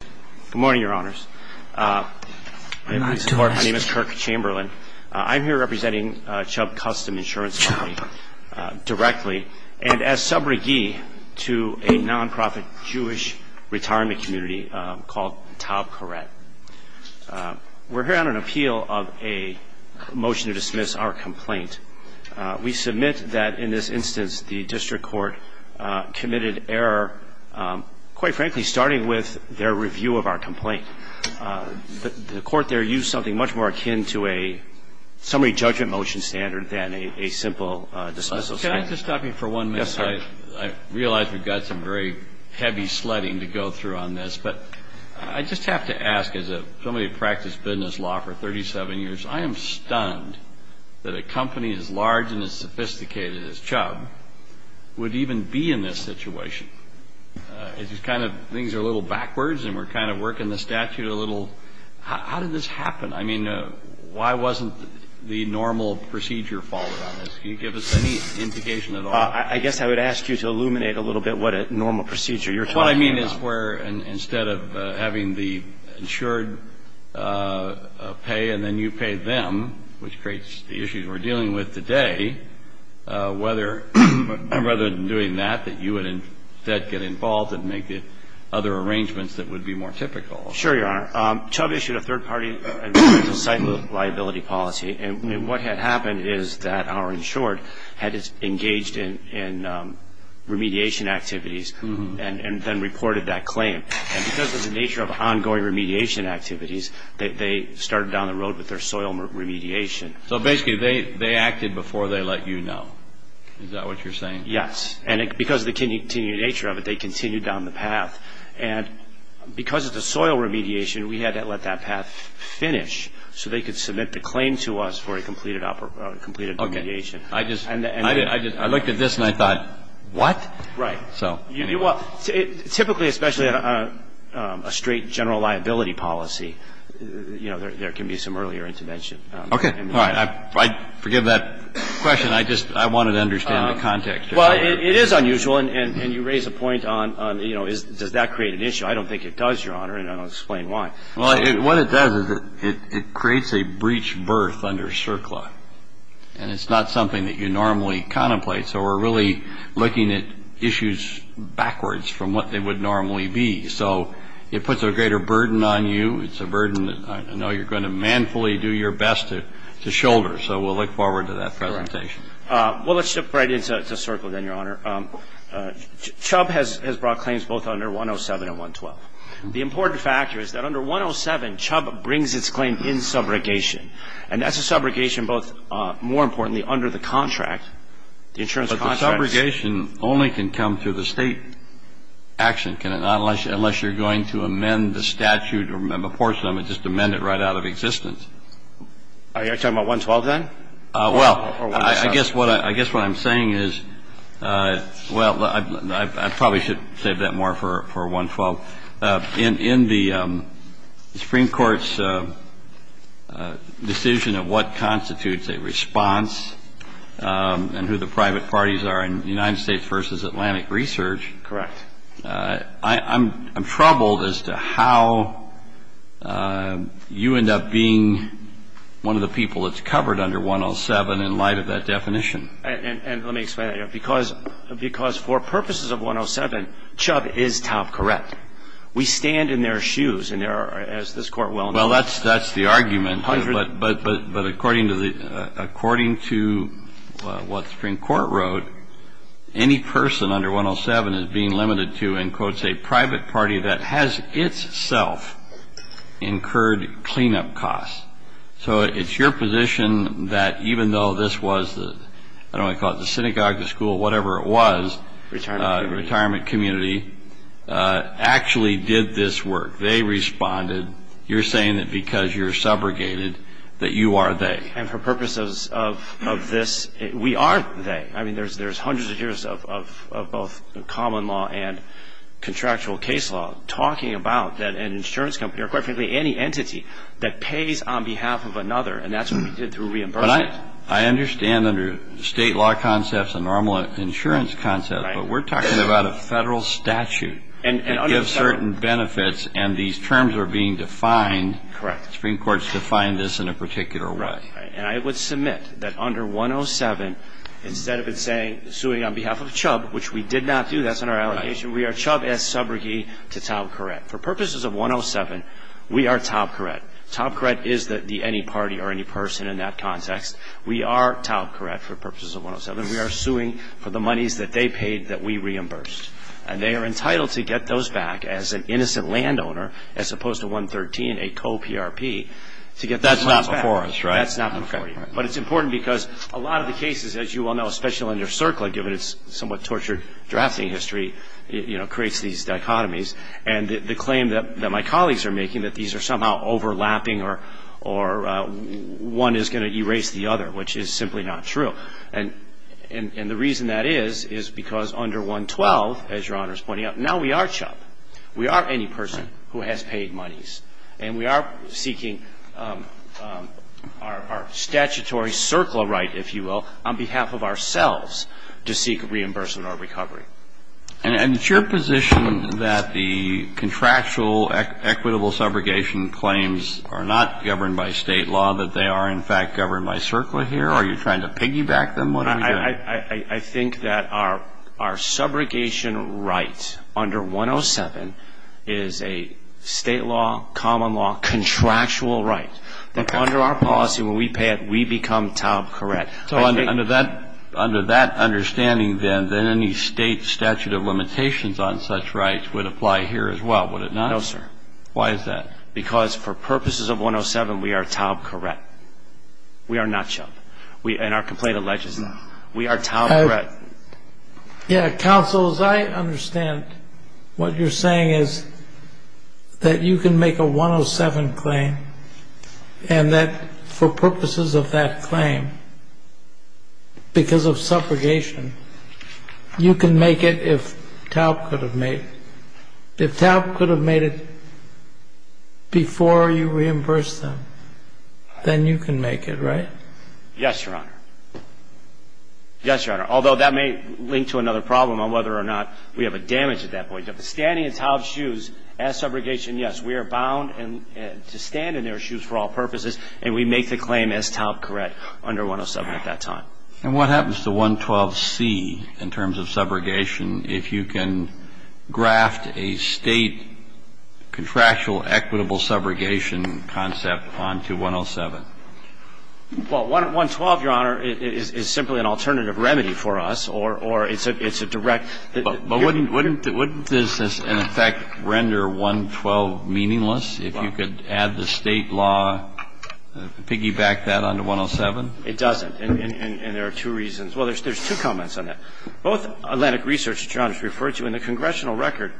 Good morning, Your Honors. My name is Kirk Chamberlain. I'm here representing Chubb Custom Insurance Company directly and as sub-reggie to a non-profit Jewish retirement community called Taub Korett. We're here on an appeal of a motion to dismiss our complaint. We submit that in this instance the district court committed error, quite frankly, starting with their review of our complaint. The court there used something much more akin to a summary judgment motion standard than a simple dismissal standard. Can I just stop you for one minute? Yes, sir. I realize we've got some very heavy sledding to go through on this, but I just have to ask, as somebody who practiced business law for 37 years, I am stunned that a company as large and as sophisticated as Chubb would even be in this situation. It's just kind of things are a little backwards and we're kind of working the statute a little. How did this happen? I mean, why wasn't the normal procedure followed on this? Can you give us any indication at all? I guess I would ask you to illuminate a little bit what a normal procedure. You're talking about What I mean is where instead of having the insured pay and then you pay them, which creates the issues we're dealing with today, whether rather than doing that, that you would instead get involved and make it other arrangements that would be more typical. Sure, your honor. Chubb issued a third party and financial liability policy. And what had happened is that our insured had engaged in remediation activities and then reported that claim. And because of the nature of ongoing remediation activities, they started down the road with their soil remediation. So basically they acted before they let you know. Is that what you're saying? Yes. And because of the continued nature of it, they continued down the path. And because of the soil remediation, we had to let that path finish so they could submit the claim to us for a completed remediation. I looked at this and I thought, what? Right. Typically, especially a straight general liability policy, there can be some earlier intervention. Okay. All right. I forgive that question. I wanted to understand the context. Well, it is unusual. And you raise a point on does that create an issue. I don't think it does, your honor. And I'll explain why. What it does is it creates a breach berth under CERCLA. And it's not something that you normally contemplate. So we're really looking at issues backwards from what they would normally be. So it puts a greater burden on you. It's a burden that I know you're going to manfully do your best to shoulder. So we'll look forward to that presentation. Well, let's shift right into CERCLA then, your honor. Chubb has brought claims both under 107 and 112. The important factor is that under 107, Chubb brings its claim in subrogation. And that's a subrogation both, more importantly, under the contract, the insurance contract. But the subrogation only can come through the State action, can it not, unless you're going to amend the statute or portion of it, just amend it right out of existence. Are you talking about 112, then? Well, I guess what I'm saying is, well, I probably should save that more for 112. In the Supreme Court's decision of what constitutes a response and who the private parties are in United States v. Atlantic Research. Correct. I'm troubled as to how you end up being one of the people that's covered under 107 in light of that definition. And let me explain that. Because for purposes of 107, Chubb is top correct. We stand in their shoes, and there are, as this Court well knows. Well, that's the argument. But according to what the Supreme Court wrote, any person under 107 is being limited to, in quotes, a private party that has itself incurred cleanup costs. So it's your position that even though this was the, I don't want to call it the synagogue, the school, whatever it was, retirement community, actually did this work. They responded. You're saying that because you're subrogated, that you are they. And for purposes of this, we are they. I mean, there's hundreds of years of both common law and contractual case law talking about that an insurance company or, quite frankly, any entity that pays on behalf of another, and that's what we did through reimbursement. I understand under State law concepts and normal insurance concepts, but we're talking about a Federal statute that gives certain benefits, and these terms are being defined. Correct. The Supreme Court's defined this in a particular way. And I would submit that under 107, instead of it saying suing on behalf of Chubb, which we did not do, that's in our allegation, we are Chubb as subrogate to Taub Courette. For purposes of 107, we are Taub Courette. Taub Courette is the any party or any person in that context. We are Taub Courette for purposes of 107. We are suing for the monies that they paid that we reimbursed. And they are entitled to get those back as an innocent landowner, as opposed to 113, a co-PRP, to get those monies back. That's not before us, right? That's not before you. But it's important because a lot of the cases, as you all know, especially under CERCLA, given its somewhat tortured drafting history, you know, creates these dichotomies. And the claim that my colleagues are making, that these are somehow overlapping or one is going to erase the other, which is simply not true. And the reason that is, is because under 112, as Your Honor is pointing out, now we are Chubb. We are any person who has paid monies. And we are seeking our statutory CERCLA right, if you will, on behalf of ourselves to seek reimbursement or recovery. And is it your position that the contractual equitable subrogation claims are not governed by state law, that they are, in fact, governed by CERCLA here? Are you trying to piggyback them? I think that our subrogation rights under 107 is a state law, common law, contractual right. That under our policy, when we pay it, we become TAOB correct. So under that understanding, then, any state statute of limitations on such rights would apply here as well, would it not? No, sir. Why is that? Because for purposes of 107, we are TAOB correct. We are not Chubb. And our complaint alleges that. We are TAOB correct. Yeah, counsel, as I understand, what you're saying is that you can make a 107 claim, and that for purposes of that claim, because of subrogation, you can make it if TAOB could have made it. If TAOB could have made it before you reimbursed them, then you can make it, right? Yes, Your Honor. Yes, Your Honor. Although, that may link to another problem on whether or not we have a damage at that point. But standing in TAOB's shoes as subrogation, yes, we are bound to stand in their shoes for all purposes, and we make the claim as TAOB correct under 107 at that time. And what happens to 112C in terms of subrogation if you can graft a state contractual equitable subrogation concept onto 107? Well, 112, Your Honor, is simply an alternative remedy for us, or it's a direct ---- But wouldn't this, in effect, render 112 meaningless if you could add the state law, piggyback that onto 107? It doesn't. And there are two reasons. Well, there's two comments on that. Both Atlantic Research, Your Honor, has referred to in the congressional record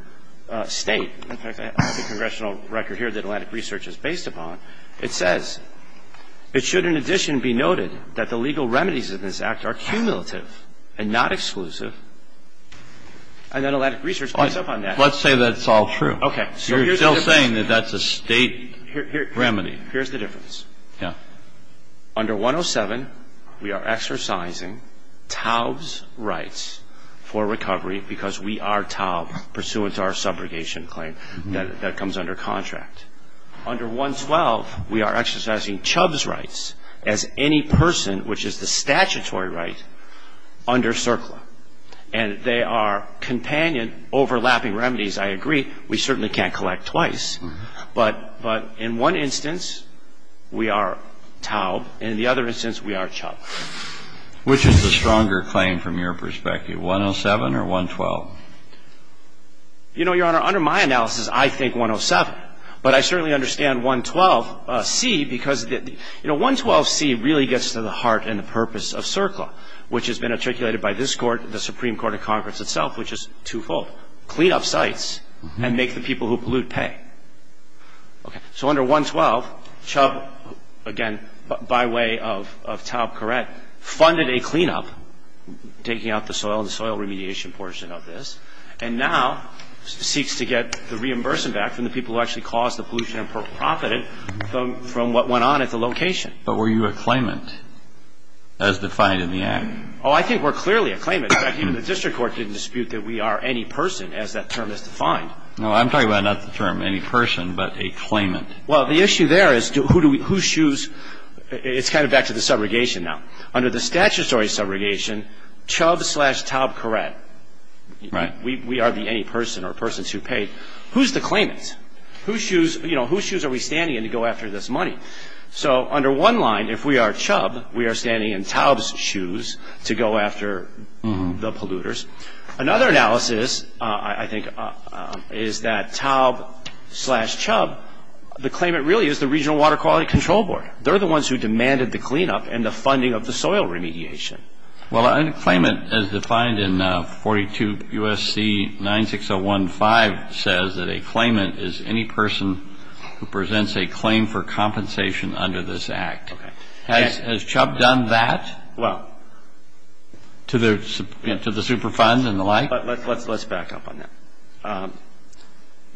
state. In fact, I have the congressional record here that Atlantic Research is based upon. It says, it should in addition be noted that the legal remedies in this Act are cumulative and not exclusive. And then Atlantic Research points up on that. Let's say that's all true. Okay. So here's the difference. You're still saying that that's a state remedy. Here's the difference. Yeah. Under 107, we are exercising TAOB's rights for recovery because we are TAOB pursuant to our subrogation claim that comes under contract. Under 112, we are exercising CHUBB's rights as any person, which is the statutory right, under CERCLA. And they are companion overlapping remedies, I agree. We certainly can't collect twice. But in one instance, we are TAOB, and in the other instance, we are CHUBB. Which is the stronger claim from your perspective, 107 or 112? You know, Your Honor, under my analysis, I think 107. But I certainly understand 112C because the – you know, 112C really gets to the heart and the purpose of CERCLA, which has been articulated by this Court, the Supreme Court of Congress itself, which is twofold. Clean up sites and make the people who pollute pay. Okay. So under 112, CHUBB, again, by way of TAOB correct, funded a cleanup, taking out the soil and the soil remediation portion of this, and now seeks to get the reimbursement back from the people who actually caused the pollution and profited from what went on at the location. But were you a claimant as defined in the Act? Oh, I think we're clearly a claimant. In fact, even the district court didn't dispute that we are any person as that term is defined. No, I'm talking about not the term any person, but a claimant. Well, the issue there is who do we – whose shoes – it's kind of back to the subrogation now. Under the statutory subrogation, CHUBB slash TAOB correct. Right. We are the any person or persons who paid. Who's the claimant? Whose shoes – you know, whose shoes are we standing in to go after this money? So under one line, if we are CHUBB, we are standing in TAOB's shoes to go after the polluters. Another analysis, I think, is that TAOB slash CHUBB, the claimant really is the Regional Water Quality Control Board. They're the ones who demanded the cleanup and the funding of the soil remediation. Well, a claimant as defined in 42 U.S.C. 96015 says that a claimant is any person who presents a claim for compensation under this Act. Okay. Has CHUBB done that? Well – To the – to the Superfund and the like? Let's back up on that.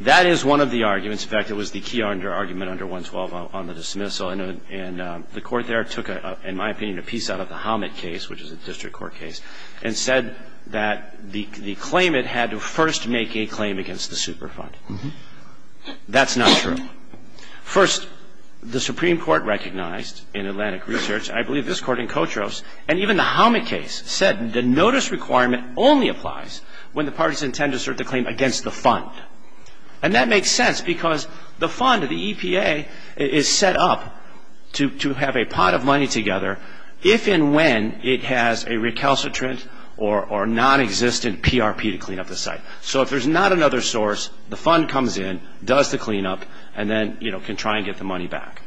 That is one of the arguments. In fact, it was the key argument under 112 on the dismissal, and the Court there took, in my opinion, a piece out of the Hommett case, which is a district court case, and said that the claimant had to first make a claim against the Superfund. That's not true. First, the Supreme Court recognized in Atlantic Research – I believe this Court in Kotros – and even the Hommett case said the notice requirement only applies when the parties intend to assert the claim against the Fund. And that makes sense because the Fund, the EPA, is set up to have a pot of money together if and when it has a recalcitrant or nonexistent PRP to clean up the site. So if there's not another source, the Fund comes in, does the cleanup, and then, you know, can try and get the money back.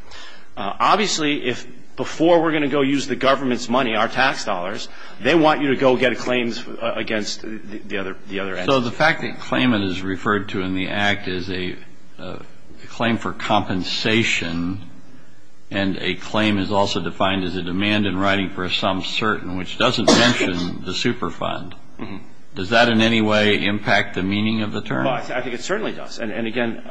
Obviously, if before we're going to go use the government's money, our tax dollars, they want you to go get a claim against the other entity. So the fact that claimant is referred to in the Act as a claim for compensation and a claim is also defined as a demand in writing for some certain, which doesn't mention the Superfund, does that in any way impact the meaning of the term? Well, I think it certainly does. And again,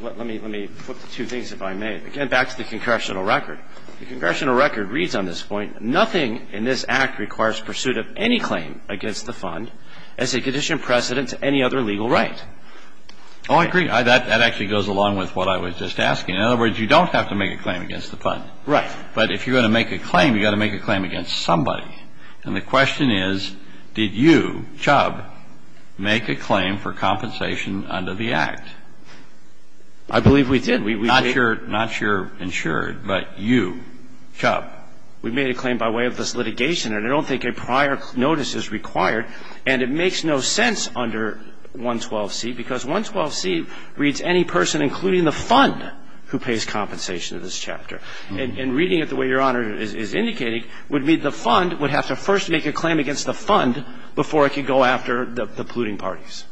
let me flip to two things, if I may. Again, back to the congressional record. The congressional record reads on this point, nothing in this Act requires pursuit of any claim against the Fund as a condition precedent to any other legal right. Oh, I agree. That actually goes along with what I was just asking. In other words, you don't have to make a claim against the Fund. Right. But if you're going to make a claim, you've got to make a claim against somebody. And the question is, did you, Chubb, make a claim for compensation under the Act? I believe we did. Not your insured, but you, Chubb. We made a claim by way of this litigation, and I don't think a prior notice is required. And it makes no sense under 112C, because 112C reads any person, including the Fund, who pays compensation to this chapter. And reading it the way Your Honor is indicating would mean the Fund would have to first make a claim against the Fund before it could go after the polluting parties.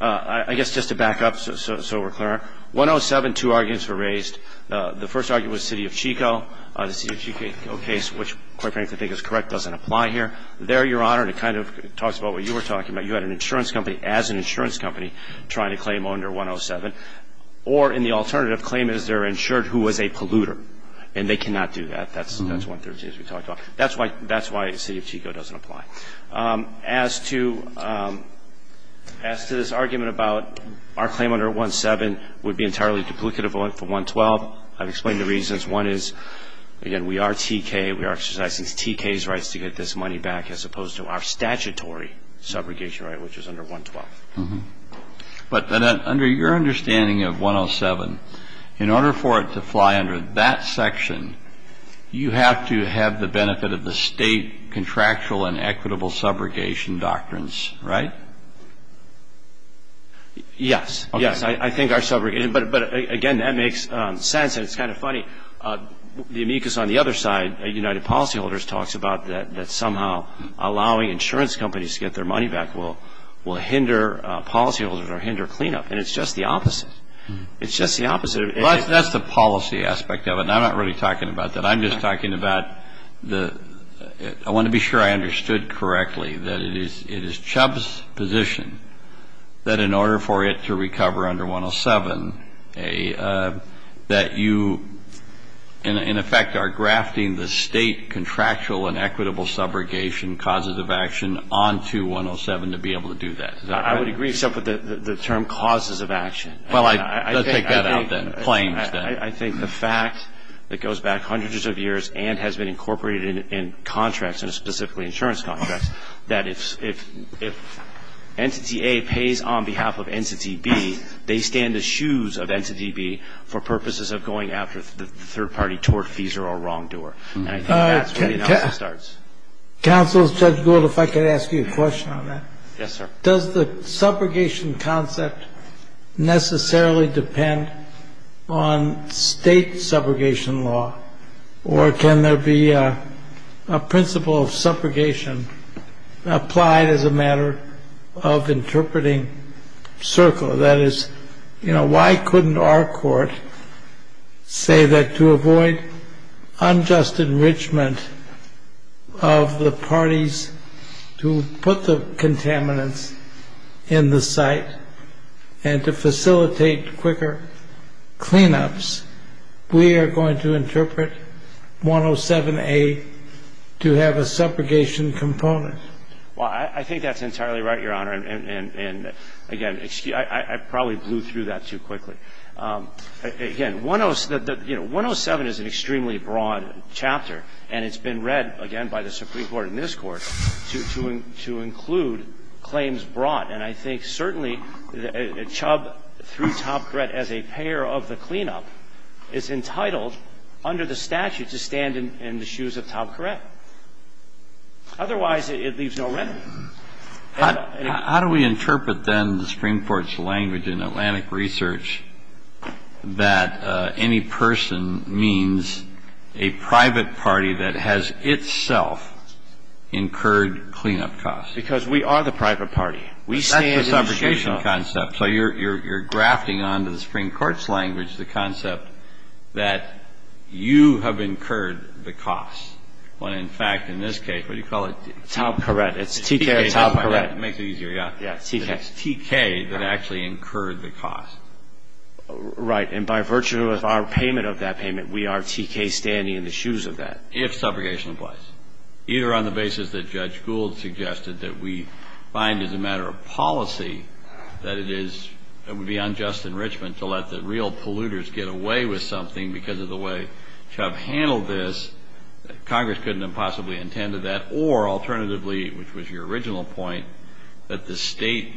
I guess just to back up so we're clear, 107, two arguments were raised. The first argument was City of Chico. The City of Chico case, which, quite frankly, I think is correct, doesn't apply here. There, Your Honor, and it kind of talks about what you were talking about, you had an insurance company as an insurance company trying to claim under 107. Or in the alternative, claim is they're insured who was a polluter. And they cannot do that. That's 113 as we talked about. That's why City of Chico doesn't apply. As to this argument about our claim under 107 would be entirely duplicative for 112, I've explained the reasons. One is, again, we are TK, we are exercising TK's rights to get this money back as opposed to our statutory subrogation right, which is under 112. But under your understanding of 107, in order for it to fly under that section, you have to have the benefit of the state contractual and equitable subrogation doctrines, right? Yes. Yes. I think our subrogation. I mean, but again, that makes sense and it's kind of funny. The amicus on the other side, United Policyholders, talks about that somehow allowing insurance companies to get their money back will hinder policyholders or hinder cleanup, and it's just the opposite. It's just the opposite. Well, that's the policy aspect of it, and I'm not really talking about that. I'm just talking about the, I want to be sure I understood correctly, that it is Chubb's position that in order for it to recover under 107, that you, in effect, are grafting the state contractual and equitable subrogation causes of action onto 107 to be able to do that. I would agree, except for the term causes of action. Well, I think. Let's take that out, then. Claims, then. I think the fact that goes back hundreds of years and has been incorporated in contracts, and specifically insurance contracts, that if Entity A pays on behalf of Entity B, they stand the shoes of Entity B for purposes of going after the third party tortfeasor or wrongdoer. And I think that's where the analysis starts. Counsel, Judge Gould, if I could ask you a question on that. Yes, sir. Does the subrogation concept necessarily depend on State subrogation law, or can there be a principle of subrogation applied as a matter of interpreting circle? That is, why couldn't our court say that to avoid unjust enrichment of the parties to put the contaminants in the site and to facilitate quicker cleanups, we are going to have to interpret 107A to have a subrogation component? Well, I think that's entirely right, Your Honor. And again, I probably blew through that too quickly. Again, 107 is an extremely broad chapter, and it's been read, again, by the Supreme Court and this Court to include claims brought. And I think, certainly, Chubb, through Topp-Courette, as a payer of the cleanup, is entitled under the statute to stand in the shoes of Topp-Courette. Otherwise, it leaves no remedy. How do we interpret, then, the Supreme Court's language in Atlantic Research that any person means a private party that has itself incurred cleanup costs? Because we are the private party. We stand in the shoes of. That's the subrogation concept. So you're grafting onto the Supreme Court's language the concept that you have incurred the costs when, in fact, in this case, what do you call it? Topp-Courette. It's T.K. or Topp-Courette. It makes it easier, yeah. Yeah, T.K. It's T.K. that actually incurred the cost. Right. And by virtue of our payment of that payment, we are T.K. standing in the shoes of that. If subrogation applies, either on the basis that Judge Gould suggested that we find as a matter of policy that it is beyond just enrichment to let the real polluters get away with something because of the way Chubb handled this, Congress couldn't have possibly intended that, or alternatively, which was your original point, that the state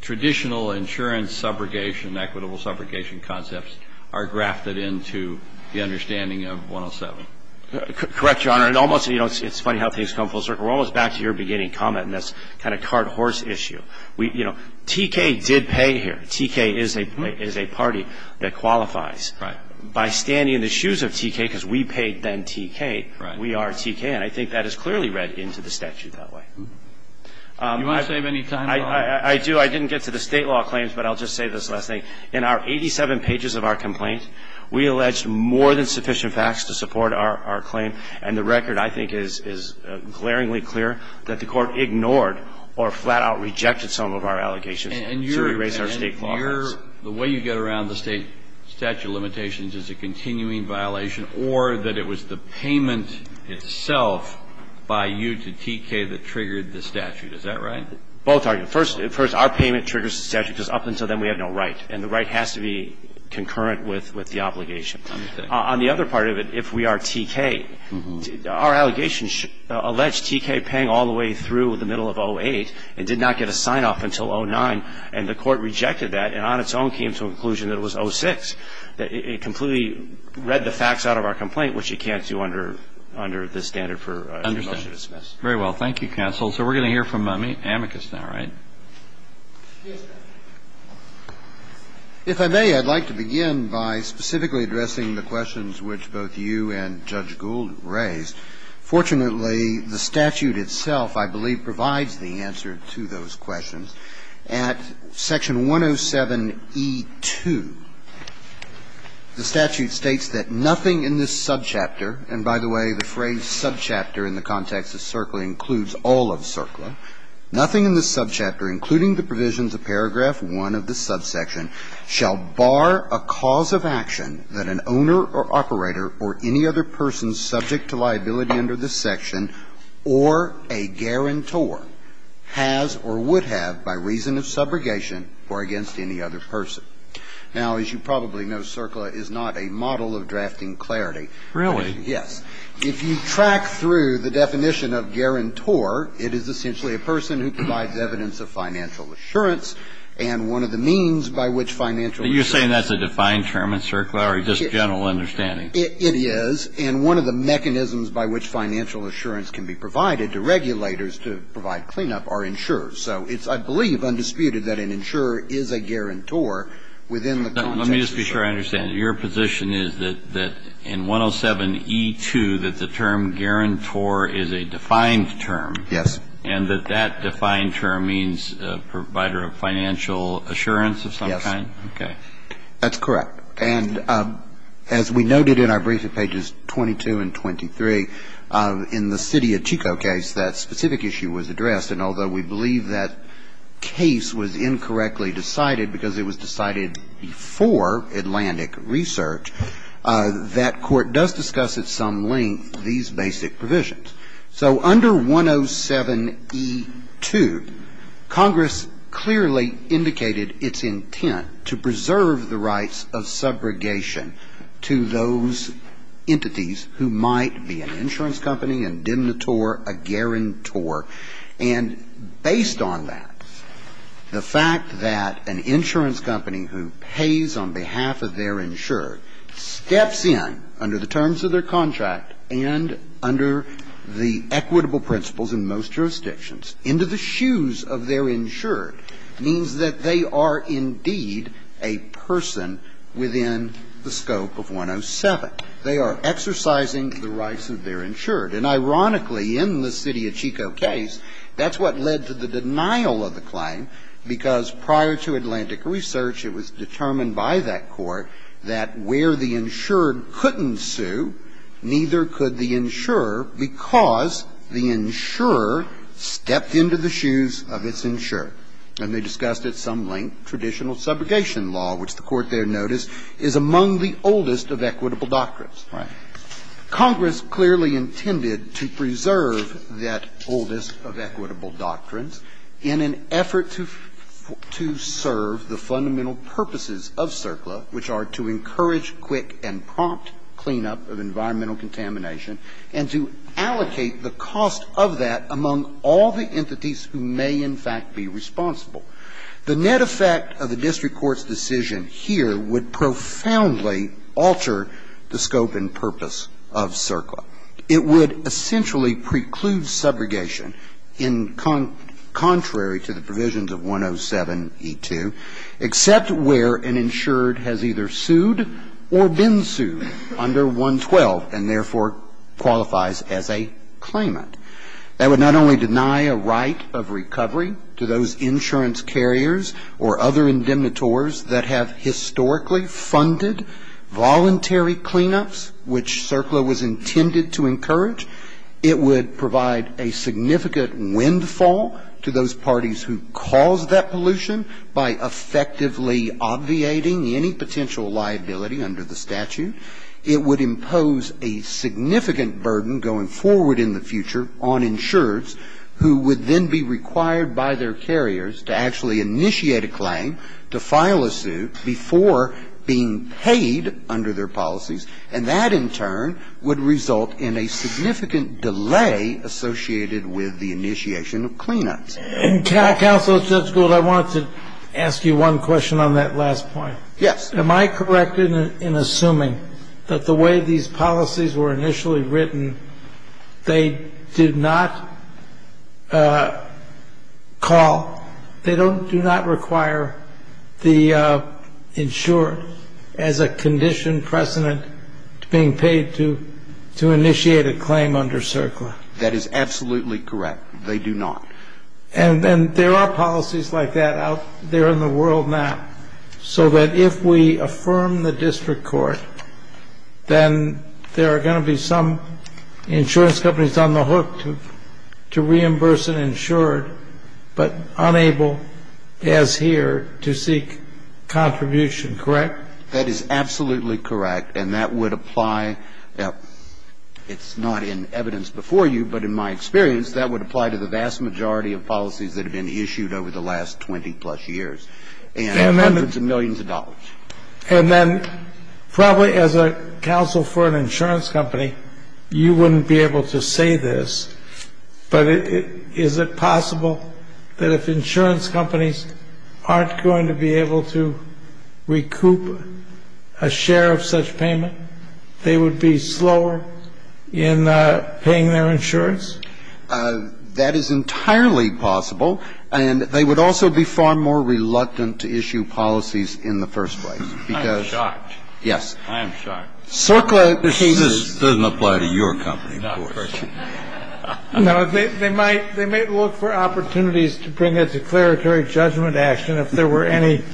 traditional insurance subrogation, equitable subrogation concepts, are grafted into the understanding of 107. Correct, Your Honor. It almost, you know, it's funny how things come full circle. We're almost back to your beginning comment in this kind of cart-horse issue. We, you know, T.K. did pay here. T.K. is a party that qualifies. Right. By standing in the shoes of T.K. because we paid then T.K., we are T.K. And I think that is clearly read into the statute that way. Do you want to save any time, though? I do. I didn't get to the State law claims, but I'll just say this last thing. In our 87 pages of our complaint, we alleged more than sufficient facts to support our claim, and the record, I think, is glaringly clear that the Court ignored or flat-out rejected some of our allegations to erase our State clauses. And your opinion, the way you get around the State statute of limitations is a continuing violation or that it was the payment itself by you to T.K. that triggered the statute. Is that right? Both are. First, our payment triggers the statute because up until then we had no right, and the right has to be concurrent with the obligation. Let me think. On the other part of it, if we are T.K., our allegations allege T.K. paying all the way through the middle of 08 and did not get a sign-off until 09, and the Court rejected that and on its own came to a conclusion that it was 06, that it completely read the facts out of our complaint, which it can't do under this standard for a motion to dismiss. I understand. Very well. Thank you, counsel. Yes, Your Honor. If I may, I'd like to begin by specifically addressing the questions which both you and Judge Gould raised. Fortunately, the statute itself, I believe, provides the answer to those questions. At section 107e2, the statute states that nothing in this subchapter, and by the way, the phrase subchapter in the context of CERCLA includes all of CERCLA, nothing in this subchapter, including the provisions of paragraph 1 of the subsection, shall bar a cause of action that an owner or operator or any other person subject to liability under this section or a guarantor has or would have by reason of subrogation or against any other person. Now, as you probably know, CERCLA is not a model of drafting clarity. Really? Yes. If you track through the definition of guarantor, it is essentially a person who provides evidence of financial assurance and one of the means by which financial assurance. You're saying that's a defined term in CERCLA or just general understanding? It is, and one of the mechanisms by which financial assurance can be provided to regulators to provide cleanup are insurers. So it's, I believe, undisputed that an insurer is a guarantor within the context of CERCLA. Let me just be sure I understand. Your position is that in 107E2, that the term guarantor is a defined term? Yes. And that that defined term means a provider of financial assurance of some kind? Yes. Okay. That's correct. And as we noted in our briefing pages 22 and 23, in the city of Chico case, that specific issue was addressed, and although we believe that case was incorrectly decided because it was decided before Atlantic Research, that Court does discuss at some length these basic provisions. So under 107E2, Congress clearly indicated its intent to preserve the rights of subrogation to those entities who might be an insurance company, a demurator, a guarantor. And based on that, the fact that an insurance company who pays on behalf of their insured steps in under the terms of their contract and under the equitable principles in most jurisdictions, into the shoes of their insured, means that they are indeed a person within the scope of 107. They are exercising the rights of their insured. And ironically, in the city of Chico case, that's what led to the denial of the claim, because prior to Atlantic Research, it was determined by that Court that where the insured couldn't sue, neither could the insurer, because the insurer stepped into the shoes of its insured. And they discussed at some length traditional subrogation law, which the Court there noticed is among the oldest of equitable doctrines. Right. Congress clearly intended to preserve that oldest of equitable doctrines in an effort to serve the fundamental purposes of CERCLA, which are to encourage quick and prompt cleanup of environmental contamination, and to allocate the cost of that among all the entities who may in fact be responsible. The net effect of the district court's decision here would profoundly alter the scope and purpose of CERCLA. It would essentially preclude subrogation in contrary to the provisions of 107e2, except where an insured has either sued or been sued under 112, and therefore qualifies as a claimant. That would not only deny a right of recovery to those insurance carriers or other insurers, which CERCLA was intended to encourage, it would provide a significant windfall to those parties who caused that pollution by effectively obviating any potential liability under the statute. It would impose a significant burden going forward in the future on insurers who would then be required by their carriers to actually initiate a claim, to file a suit, before being paid under their policies. And that, in turn, would result in a significant delay associated with the initiation of cleanups. And, Counsel, Judge Gould, I wanted to ask you one question on that last point. Yes. Am I correct in assuming that the way these policies were initially written, they do not call, they do not require the insured as a conditioned precedent being paid to initiate a claim under CERCLA? That is absolutely correct. They do not. And there are policies like that out there in the world now, so that if we affirm the district court, then there are going to be some insurance companies on the hook to reimburse an insured, but unable, as here, to seek contribution, correct? That is absolutely correct, and that would apply, it's not in evidence before you, but in my experience, that would apply to the vast majority of policies that have been issued over the last 20-plus years and hundreds of millions of dollars. And then probably as a counsel for an insurance company, you wouldn't be able to say this, but is it possible that if insurance companies aren't going to be able to recoup a share of such payment, they would be slower in paying their insurance? That is entirely possible, and they would also be far more reluctant to issue policies in the first place, because yes, CERCLA cases. This doesn't apply to your company, of course. No, they might look for opportunities to bring a declaratory judgment action if there were any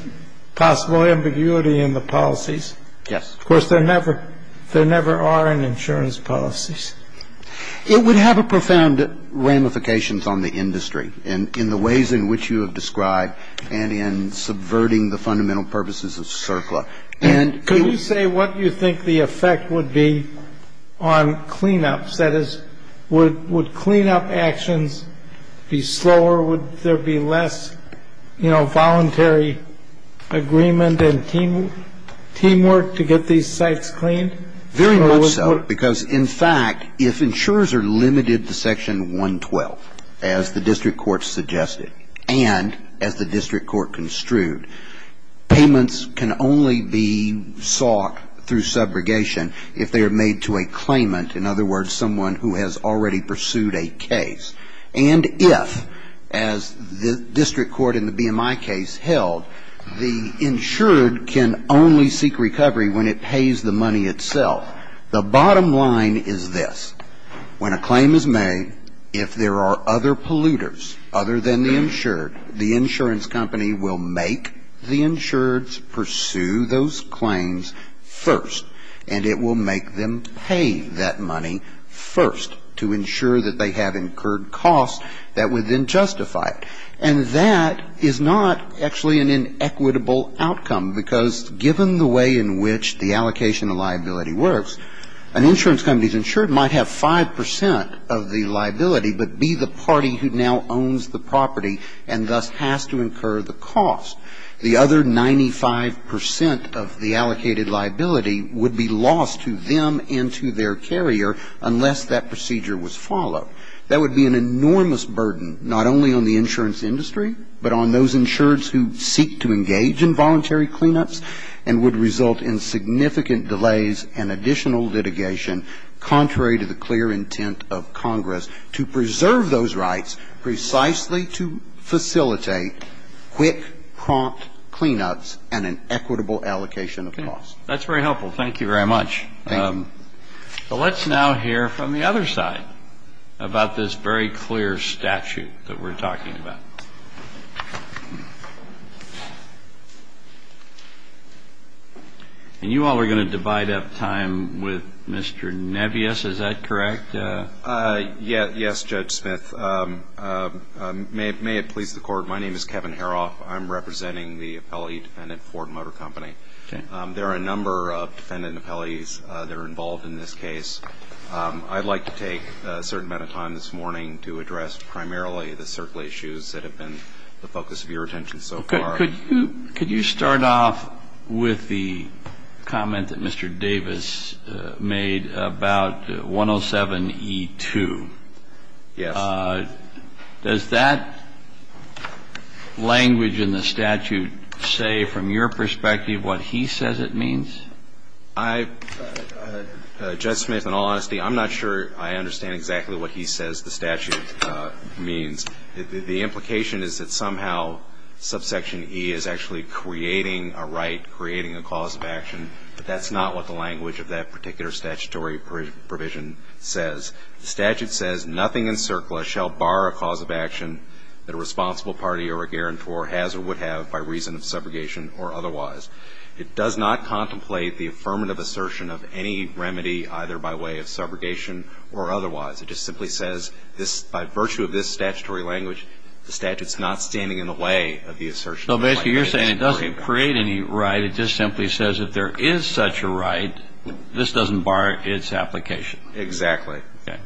possible ambiguity in the policies. Yes. Of course, there never are in insurance policies. It would have a profound ramifications on the industry in the ways in which you have described and in subverting the fundamental purposes of CERCLA. Could you say what you think the effect would be on cleanups, that is, would cleanup actions be slower, would there be less, you know, voluntary agreement and teamwork to get these sites cleaned? Very much so, because in fact, if insurers are limited to Section 112, as the district court suggested, and as the district court construed, payments can only be sought through subrogation if they are made to a claimant, in other words, someone who has already pursued a case. And if, as the district court in the BMI case held, the insured can only seek recovery when it pays the money itself. The bottom line is this. When a claim is made, if there are other polluters other than the insured, the insurance company will make the insureds pursue those claims first, and it will make them pay that money first to ensure that they have incurred costs that would then justify it. And that is not actually an inequitable outcome, because given the way in which the allocation of liability works, an insurance company's insured might have 5 percent of the liability, but be the party who now owns the property and thus has to incur the cost. The other 95 percent of the allocated liability would be lost to them and to their carrier unless that procedure was followed. That would be an enormous burden not only on the insurance industry, but on those insureds who seek to engage in voluntary cleanups, and would result in significant delays and additional litigation contrary to the clear intent of Congress to preserve those rights precisely to facilitate quick, prompt cleanups and an equitable allocation of costs. That's very helpful. Thank you very much. Thank you. So let's now hear from the other side about this very clear statute that we're talking about. And you all are going to divide up time with Mr. Nebius, is that correct? Yes, Judge Smith. May it please the Court, my name is Kevin Haroff. I'm representing the appellee defendant, Ford Motor Company. There are a number of defendant appellees that are involved in this case. I'd like to take a certain amount of time this morning to address primarily the circular issues that have been the focus of your attention so far. Could you start off with the comment that Mr. Davis made about 107E2? Yes. Does that language in the statute say, from your perspective, what is the purpose Does it say what he says it means? I, Judge Smith, in all honesty, I'm not sure I understand exactly what he says the statute means. The implication is that somehow subsection E is actually creating a right, creating a cause of action, but that's not what the language of that particular statutory provision says. The statute says, nothing in circular shall bar a cause of action that a responsible party or a guarantor has or would have by reason of subrogation or otherwise. It does not contemplate the affirmative assertion of any remedy, either by way of subrogation or otherwise. It just simply says, by virtue of this statutory language, the statute's not standing in the way of the assertion. So basically you're saying it doesn't create any right, it just simply says if there is such a right, this doesn't bar its application. Exactly. Okay.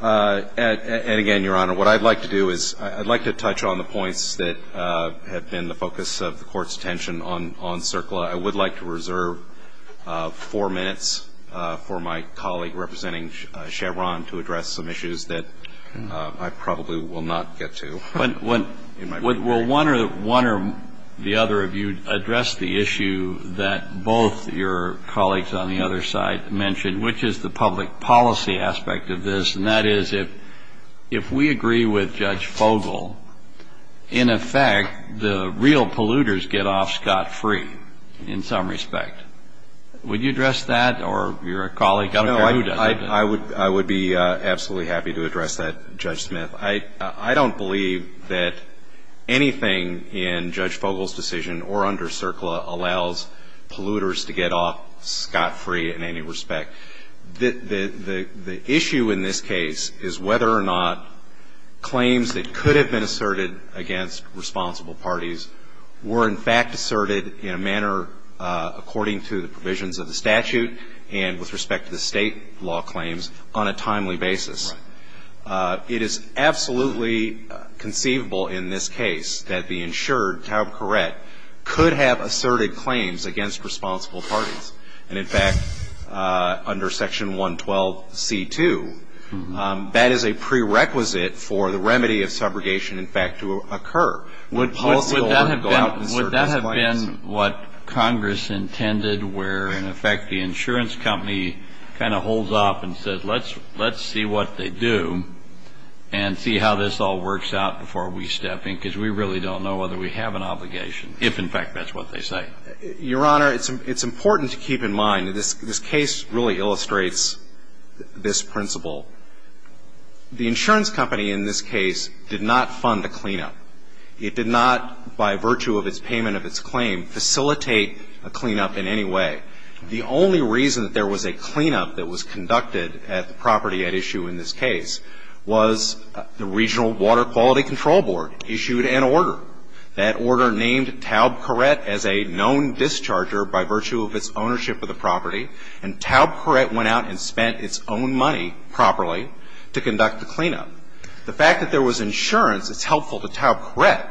And again, Your Honor, what I'd like to do is I'd like to touch on the points that have been the focus of the Court's attention on CERCLA. I would like to reserve four minutes for my colleague representing Chevron to address some issues that I probably will not get to. Well, one or the other of you addressed the issue that both your colleagues on the other side mentioned, which is the public policy aspect of this, and that is if we agree with Judge Fogel, in effect the real polluters get off scot-free in some respect. Would you address that or your colleague? I would be absolutely happy to address that, Judge Smith. I don't believe that anything in Judge Fogel's decision or under CERCLA allows polluters to get off scot-free in any respect. The issue in this case is whether or not claims that could have been asserted against responsible parties were in fact asserted in a manner according to the provisions of the statute and with respect to the state law claims on a timely basis. Right. It is absolutely conceivable in this case that the insured, Taub Courette, could have been asserted against responsible parties. And, in fact, under Section 112C2, that is a prerequisite for the remedy of subrogation, in fact, to occur. Would policy go out in CERCLA's place? Would that have been what Congress intended where, in effect, the insurance company kind of holds off and says, let's see what they do and see how this all works out before we step in, because we really don't know whether we have an obligation, if, in fact, that's what they say. Your Honor, it's important to keep in mind that this case really illustrates this principle. The insurance company in this case did not fund a cleanup. It did not, by virtue of its payment of its claim, facilitate a cleanup in any way. The only reason that there was a cleanup that was conducted at the property at issue in this case was the Regional Water Quality Control Board issued an order. That order named Taub Courette as a known discharger by virtue of its ownership of the property, and Taub Courette went out and spent its own money properly to conduct the cleanup. The fact that there was insurance is helpful to Taub Courette,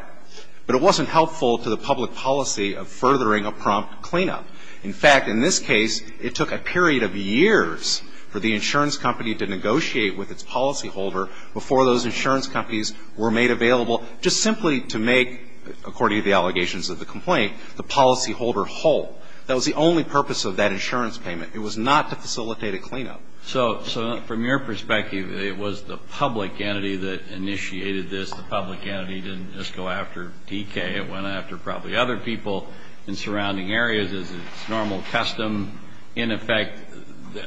but it wasn't helpful to the public policy of furthering a prompt cleanup. In fact, in this case, it took a period of years for the insurance company to negotiate with its policyholder before those insurance companies were made available, just simply to make, according to the allegations of the complaint, the policyholder whole. That was the only purpose of that insurance payment. It was not to facilitate a cleanup. So from your perspective, it was the public entity that initiated this. The public entity didn't just go after DK. It went after probably other people in surrounding areas as is normal custom. In effect,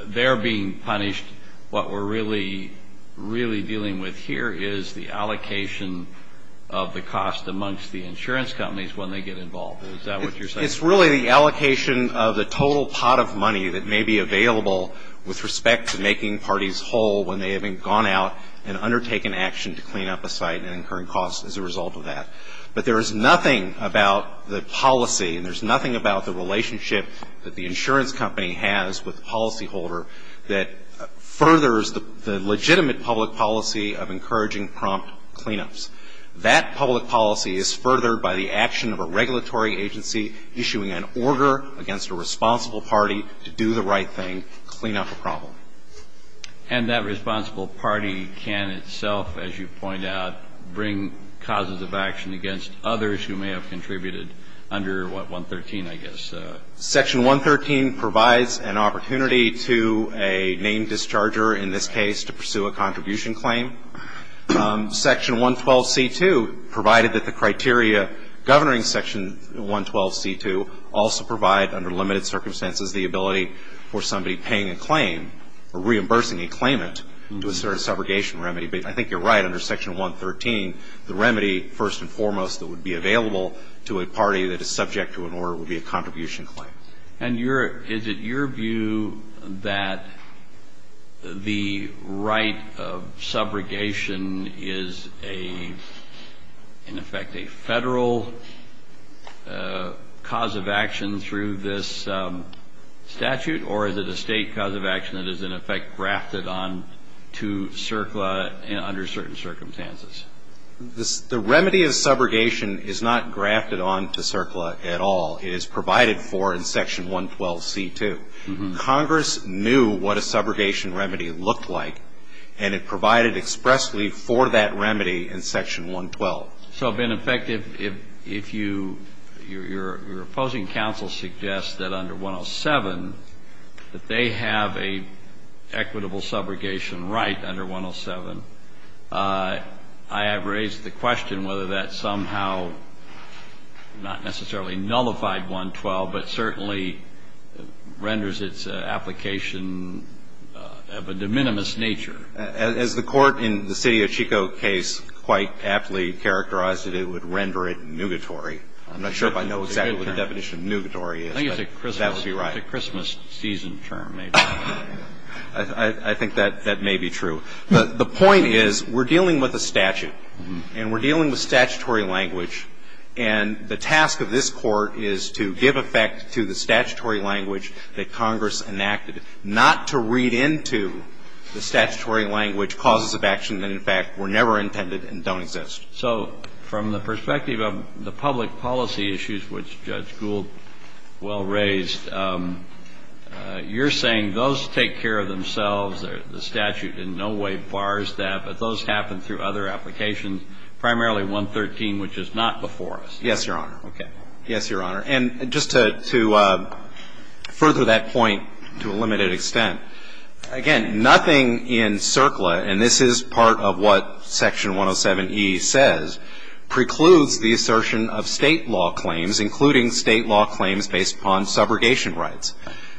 they're being punished. What we're really, really dealing with here is the allocation of the cost amongst the insurance companies when they get involved. Is that what you're saying? It's really the allocation of the total pot of money that may be available with respect to making parties whole when they haven't gone out and undertaken action to clean up a site and incurring costs as a result of that. But there is nothing about the policy, and there's nothing about the relationship that the insurance company has with the policyholder that furthers the legitimate public policy of encouraging prompt cleanups. That public policy is furthered by the action of a regulatory agency issuing an order against a responsible party to do the right thing, clean up a problem. And that responsible party can itself, as you point out, bring causes of action against others who may have contributed under what, 113, I guess? Section 113 provides an opportunity to a named discharger, in this case, to pursue a contribution claim. Section 112C2 provided that the criteria governing Section 112C2 also provide, under limited circumstances, the ability for somebody paying a claim or reimbursing a claimant to assert a subrogation remedy. But I think you're right. Under Section 113, the remedy, first and foremost, that would be available to a party that is subject to an order would be a contribution claim. And your, is it your view that the right of subrogation is a, in effect, a Federal cause of action through this statute? Or is it a State cause of action that is, in effect, grafted on to CERCLA under certain circumstances? The remedy of subrogation is not grafted on to CERCLA at all. It is provided for in Section 112C2. Congress knew what a subrogation remedy looked like. And it provided expressly for that remedy in Section 112. So, in effect, if you, your opposing counsel suggests that under 107, that they have an equitable subrogation right under 107, I have raised the question whether that somehow, not necessarily nullified 112, but certainly renders its application of a de minimis nature. As the Court in the City of Chico case quite aptly characterized it, it would render it nugatory. I'm not sure if I know exactly what the definition of nugatory is. I think it's a Christmas. That would be right. It's a Christmas season term, maybe. I think that may be true. The point is we're dealing with a statute. And we're dealing with statutory language. And the task of this Court is to give effect to the statutory language that Congress enacted, not to read into the statutory language causes of action that, in fact, were never intended and don't exist. So, from the perspective of the public policy issues, which Judge Gould well raised, you're saying those take care of themselves. The statute in no way bars that. But those happen through other applications, primarily 113, which is not before us. Yes, Your Honor. Okay. Yes, Your Honor. And just to further that point to a limited extent, again, nothing in CERCLA, and this is part of what Section 107E says, precludes the assertion of state law claims, including state law claims based upon subrogation rights.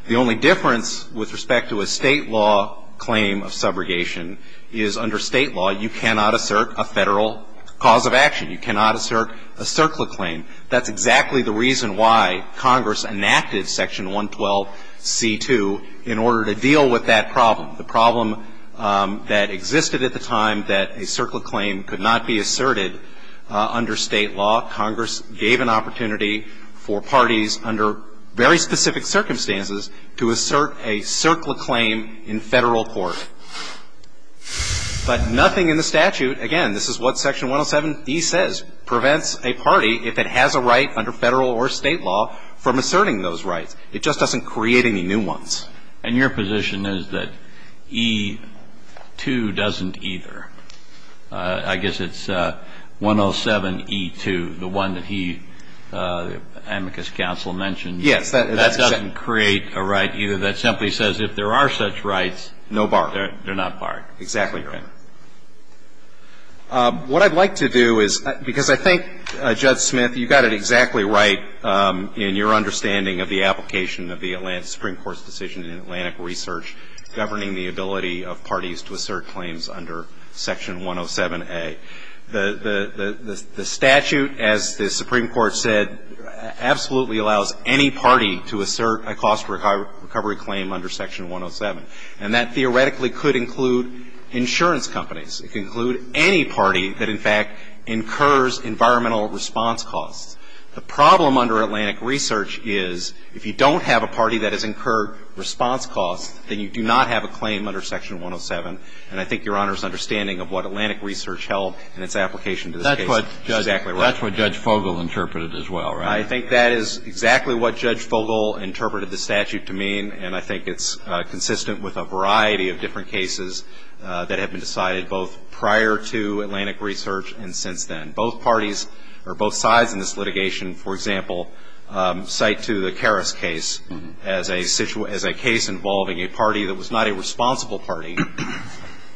The only difference with respect to a state law claim of subrogation is under state law you cannot assert a federal cause of action. You cannot assert a CERCLA claim. That's exactly the reason why Congress enacted Section 112C2 in order to deal with that problem. The problem that existed at the time that a CERCLA claim could not be asserted under state law, Congress gave an opportunity for parties under very specific circumstances to assert a CERCLA claim in federal court. But nothing in the statute, again, this is what Section 107E says, prevents a party, if it has a right under federal or state law, from asserting those rights. It just doesn't create any new ones. And your position is that E2 doesn't either. I guess it's 107E2, the one that he, the amicus counsel, mentioned. Yes. That doesn't create a right either. That simply says if there are such rights. No bar. They're not barred. Exactly right. What I'd like to do is, because I think, Judge Smith, you got it exactly right in your understanding of the application of the Supreme Court's decision in Atlantic Research governing the ability of parties to assert claims under Section 107A. The statute, as the Supreme Court said, absolutely allows any party to assert a cost recovery claim under Section 107. And that theoretically could include insurance companies. It could include any party that, in fact, incurs environmental response costs. The problem under Atlantic Research is if you don't have a party that has incurred response costs, then you do not have a claim under Section 107. And I think Your Honor's understanding of what Atlantic Research held in its application to this case is exactly right. That's what Judge Fogel interpreted as well, right? I think that is exactly what Judge Fogel interpreted the statute to mean. And I think it's consistent with a variety of different cases that have been decided both prior to Atlantic Research and since then. Both parties or both sides in this litigation, for example, cite to the Karras case as a case involving a party that was not a responsible party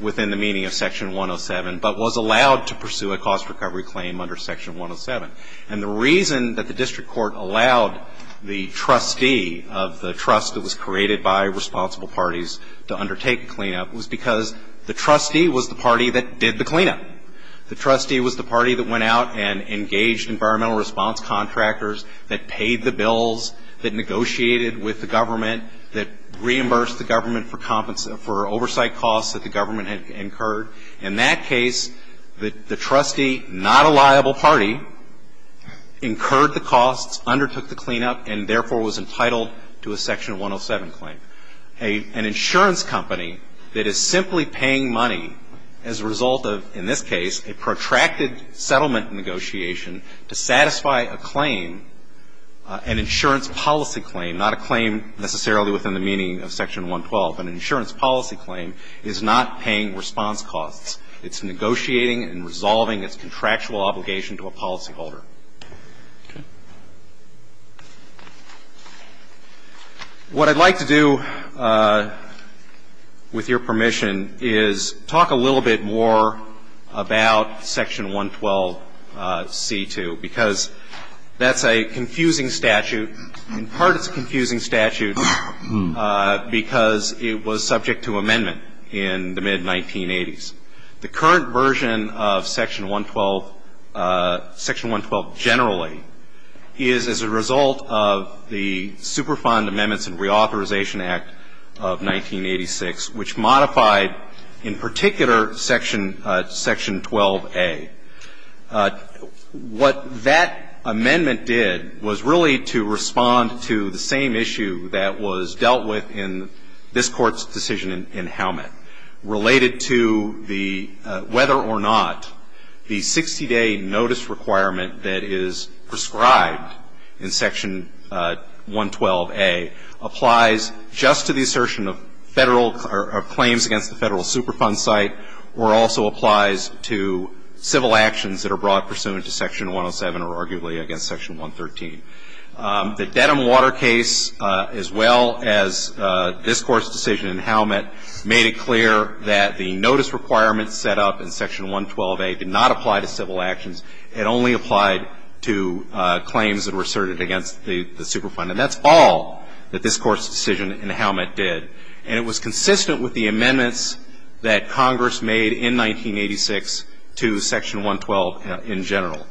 within the meaning of Section 107, but was allowed to pursue a cost recovery claim under Section 107. And the reason that the district court allowed the trustee of the trust that was created by responsible parties to undertake a cleanup was because the trustee was the party that did the cleanup. The trustee was the party that went out and engaged environmental response contractors that paid the bills, that negotiated with the government, that reimbursed the government for oversight costs that the government had incurred. In that case, the trustee, not a liable party, incurred the costs, undertook the cleanup, and therefore was entitled to a Section 107 claim. An insurance company that is simply paying money as a result of, in this case, a protracted settlement negotiation to satisfy a claim, an insurance policy claim, not a claim necessarily within the meaning of Section 112. An insurance policy claim is not paying response costs. It's negotiating and resolving its contractual obligation to a policyholder. What I'd like to do, with your permission, is talk a little bit more about Section 112c2, because that's a confusing statute. In part, it's a confusing statute, because it was subject to amendment in the mid-1980s. Section 112 generally is as a result of the Superfund Amendments and Reauthorization Act of 1986, which modified, in particular, Section 12a. What that amendment did was really to respond to the same issue that was dealt with in this Court's decision in Howmatt, related to whether or not the 60-day notice requirement that is prescribed in Section 112a applies just to the assertion of claims against the Federal Superfund site, or also applies to civil actions that are brought pursuant to Section 107, or arguably against Section 113. The Dedham Water case, as well as this Court's decision in Howmatt, made it clear that the notice requirement set up in Section 112a did not apply to civil actions. It only applied to claims that were asserted against the Superfund. And that's all that this Court's decision in Howmatt did. And it was consistent with the amendments that Congress made in 1986 to Section 112 in general.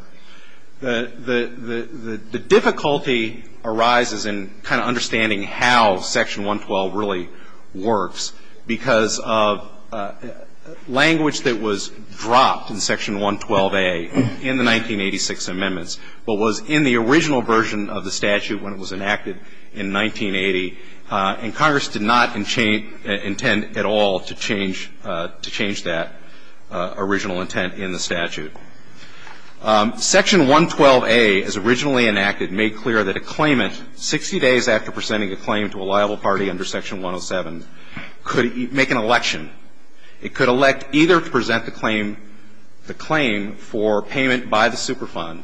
The difficulty arises in kind of understanding how Section 112 really works, because of language that was dropped in Section 112a in the 1986 amendments, but was in the original version of the statute when it was enacted in 1980. And Congress did not intend at all to change that original intent in the statute. Section 112a, as originally enacted, made clear that a claimant, 60 days after presenting a claim to a liable party under Section 107, could make an election. It could elect either to present the claim, the claim for payment by the Superfund,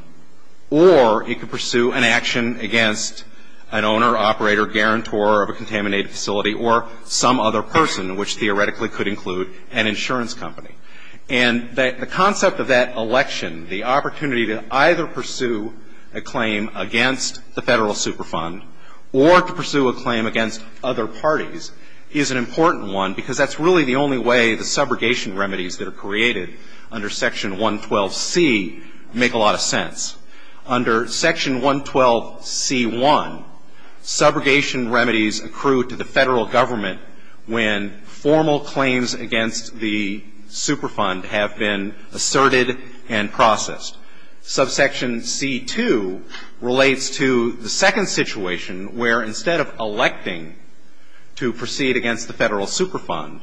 or it could pursue an action against an owner, operator, guarantor of a contaminated facility, or some other person, which theoretically could include an insurance company. And the concept of that election, the opportunity to either pursue a claim against the Federal Superfund, or to pursue a claim against other parties, is an important one, because that's really the only way the subrogation remedies that are created under Section 112c make a lot of sense. Under Section 112c1, subrogation remedies accrue to the Federal Government when formal claims against the Superfund have been asserted and processed. Subsection c2 relates to the second situation where, instead of electing to proceed against the Federal Superfund,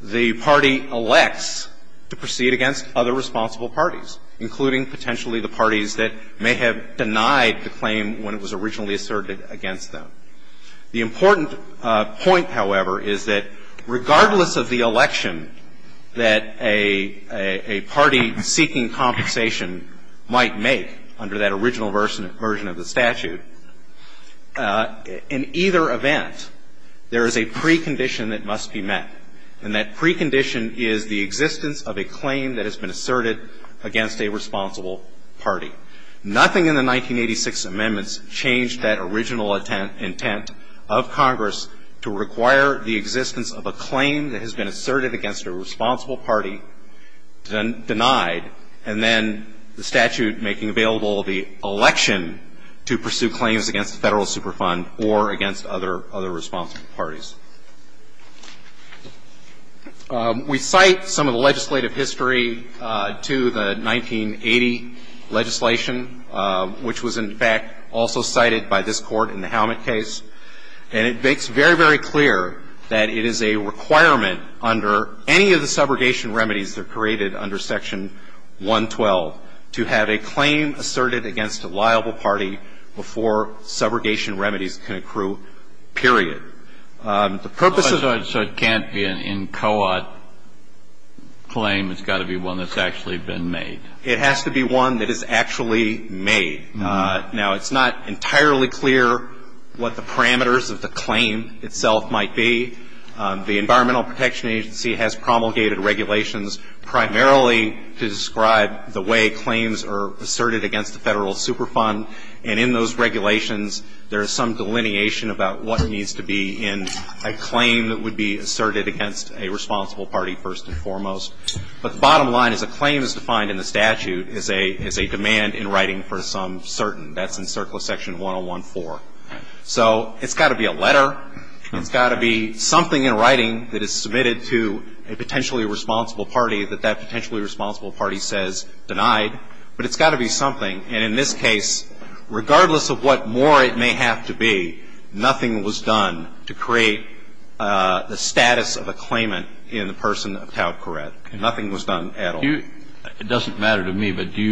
the party elects to proceed against other responsible parties, including potentially the parties that may have denied the claim when it was originally asserted against them. The important point, however, is that regardless of the election that a party seeking compensation might make under that original version of the statute, in either event, there is a precondition that must be met. And that precondition is the existence of a claim that has been asserted against a responsible party. Nothing in the 1986 amendments changed that original intent of Congress to require the existence of a claim that has been asserted against a responsible party, denied, and then the statute making available the election to pursue claims against the Federal Superfund or against other responsible parties. We cite some of the legislative history to the 1980 legislation, which was, in fact, also cited by this Court in the Helmut case. And it makes very, very clear that it is a requirement under any of the subrogation remedies that are created under Section 112 to have a claim asserted against a liable party before subrogation remedies can accrue, period. The purposes are so it can't be an in co-op claim. It's got to be one that's actually been made. It has to be one that is actually made. Now, it's not entirely clear what the parameters of the claim itself might be. The Environmental Protection Agency has promulgated regulations primarily to describe the way claims are asserted against the Federal Superfund. And in those regulations, there is some delineation about what needs to be in a claim that would be asserted against a responsible party first and foremost. But the bottom line is a claim as defined in the statute is a demand in writing for some certain. That's in Circle of Section 114. So it's got to be a letter. It's got to be something in writing that is submitted to a potentially responsible party that that potentially responsible party says denied. But it's got to be something. And in this case, regardless of what more it may have to be, nothing was done to create the status of a claimant in the person of tout correct. Nothing was done at all. It doesn't matter to me. But do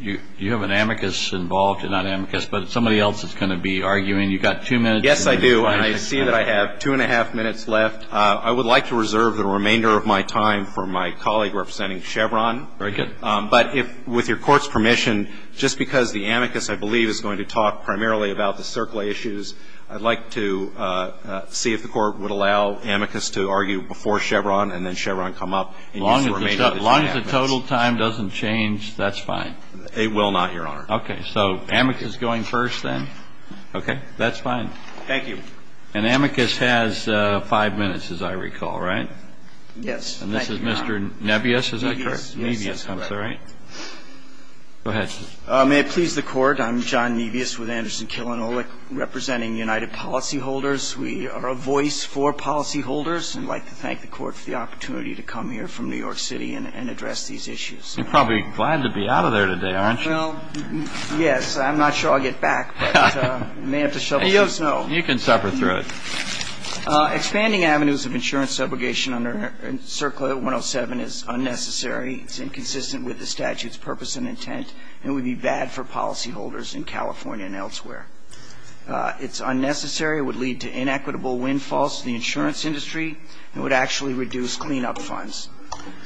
you have an amicus involved? Not an amicus, but somebody else is going to be arguing. You've got two minutes. Yes, I do. And I see that I have two and a half minutes left. I would like to reserve the remainder of my time for my colleague representing Chevron. Very good. But with your Court's permission, just because the amicus, I believe, is going to talk primarily about the Circle issues, I'd like to see if the Court would allow amicus to argue before Chevron and then Chevron come up. As long as the total time doesn't change, that's fine. It will not, Your Honor. Okay. So amicus going first then? Okay. That's fine. Thank you. And amicus has five minutes, as I recall, right? Yes. And this is Mr. Nebious, is that correct? Nebious. Yes, that's correct. Go ahead. May it please the Court, I'm John Nebious with Anderson Kilinolik representing United Policyholders. We are a voice for policyholders and would like to thank the Court for the opportunity to come here from New York City and address these issues. You're probably glad to be out of there today, aren't you? Well, yes. I'm not sure I'll get back, but I may have to shovel some snow. You can suffer through it. Expanding avenues of insurance subrogation under Circle 107 is unnecessary. It's inconsistent with the statute's purpose and intent and would be bad for policyholders in California and elsewhere. It's unnecessary. It would lead to inequitable windfalls to the insurance industry and would actually reduce cleanup funds.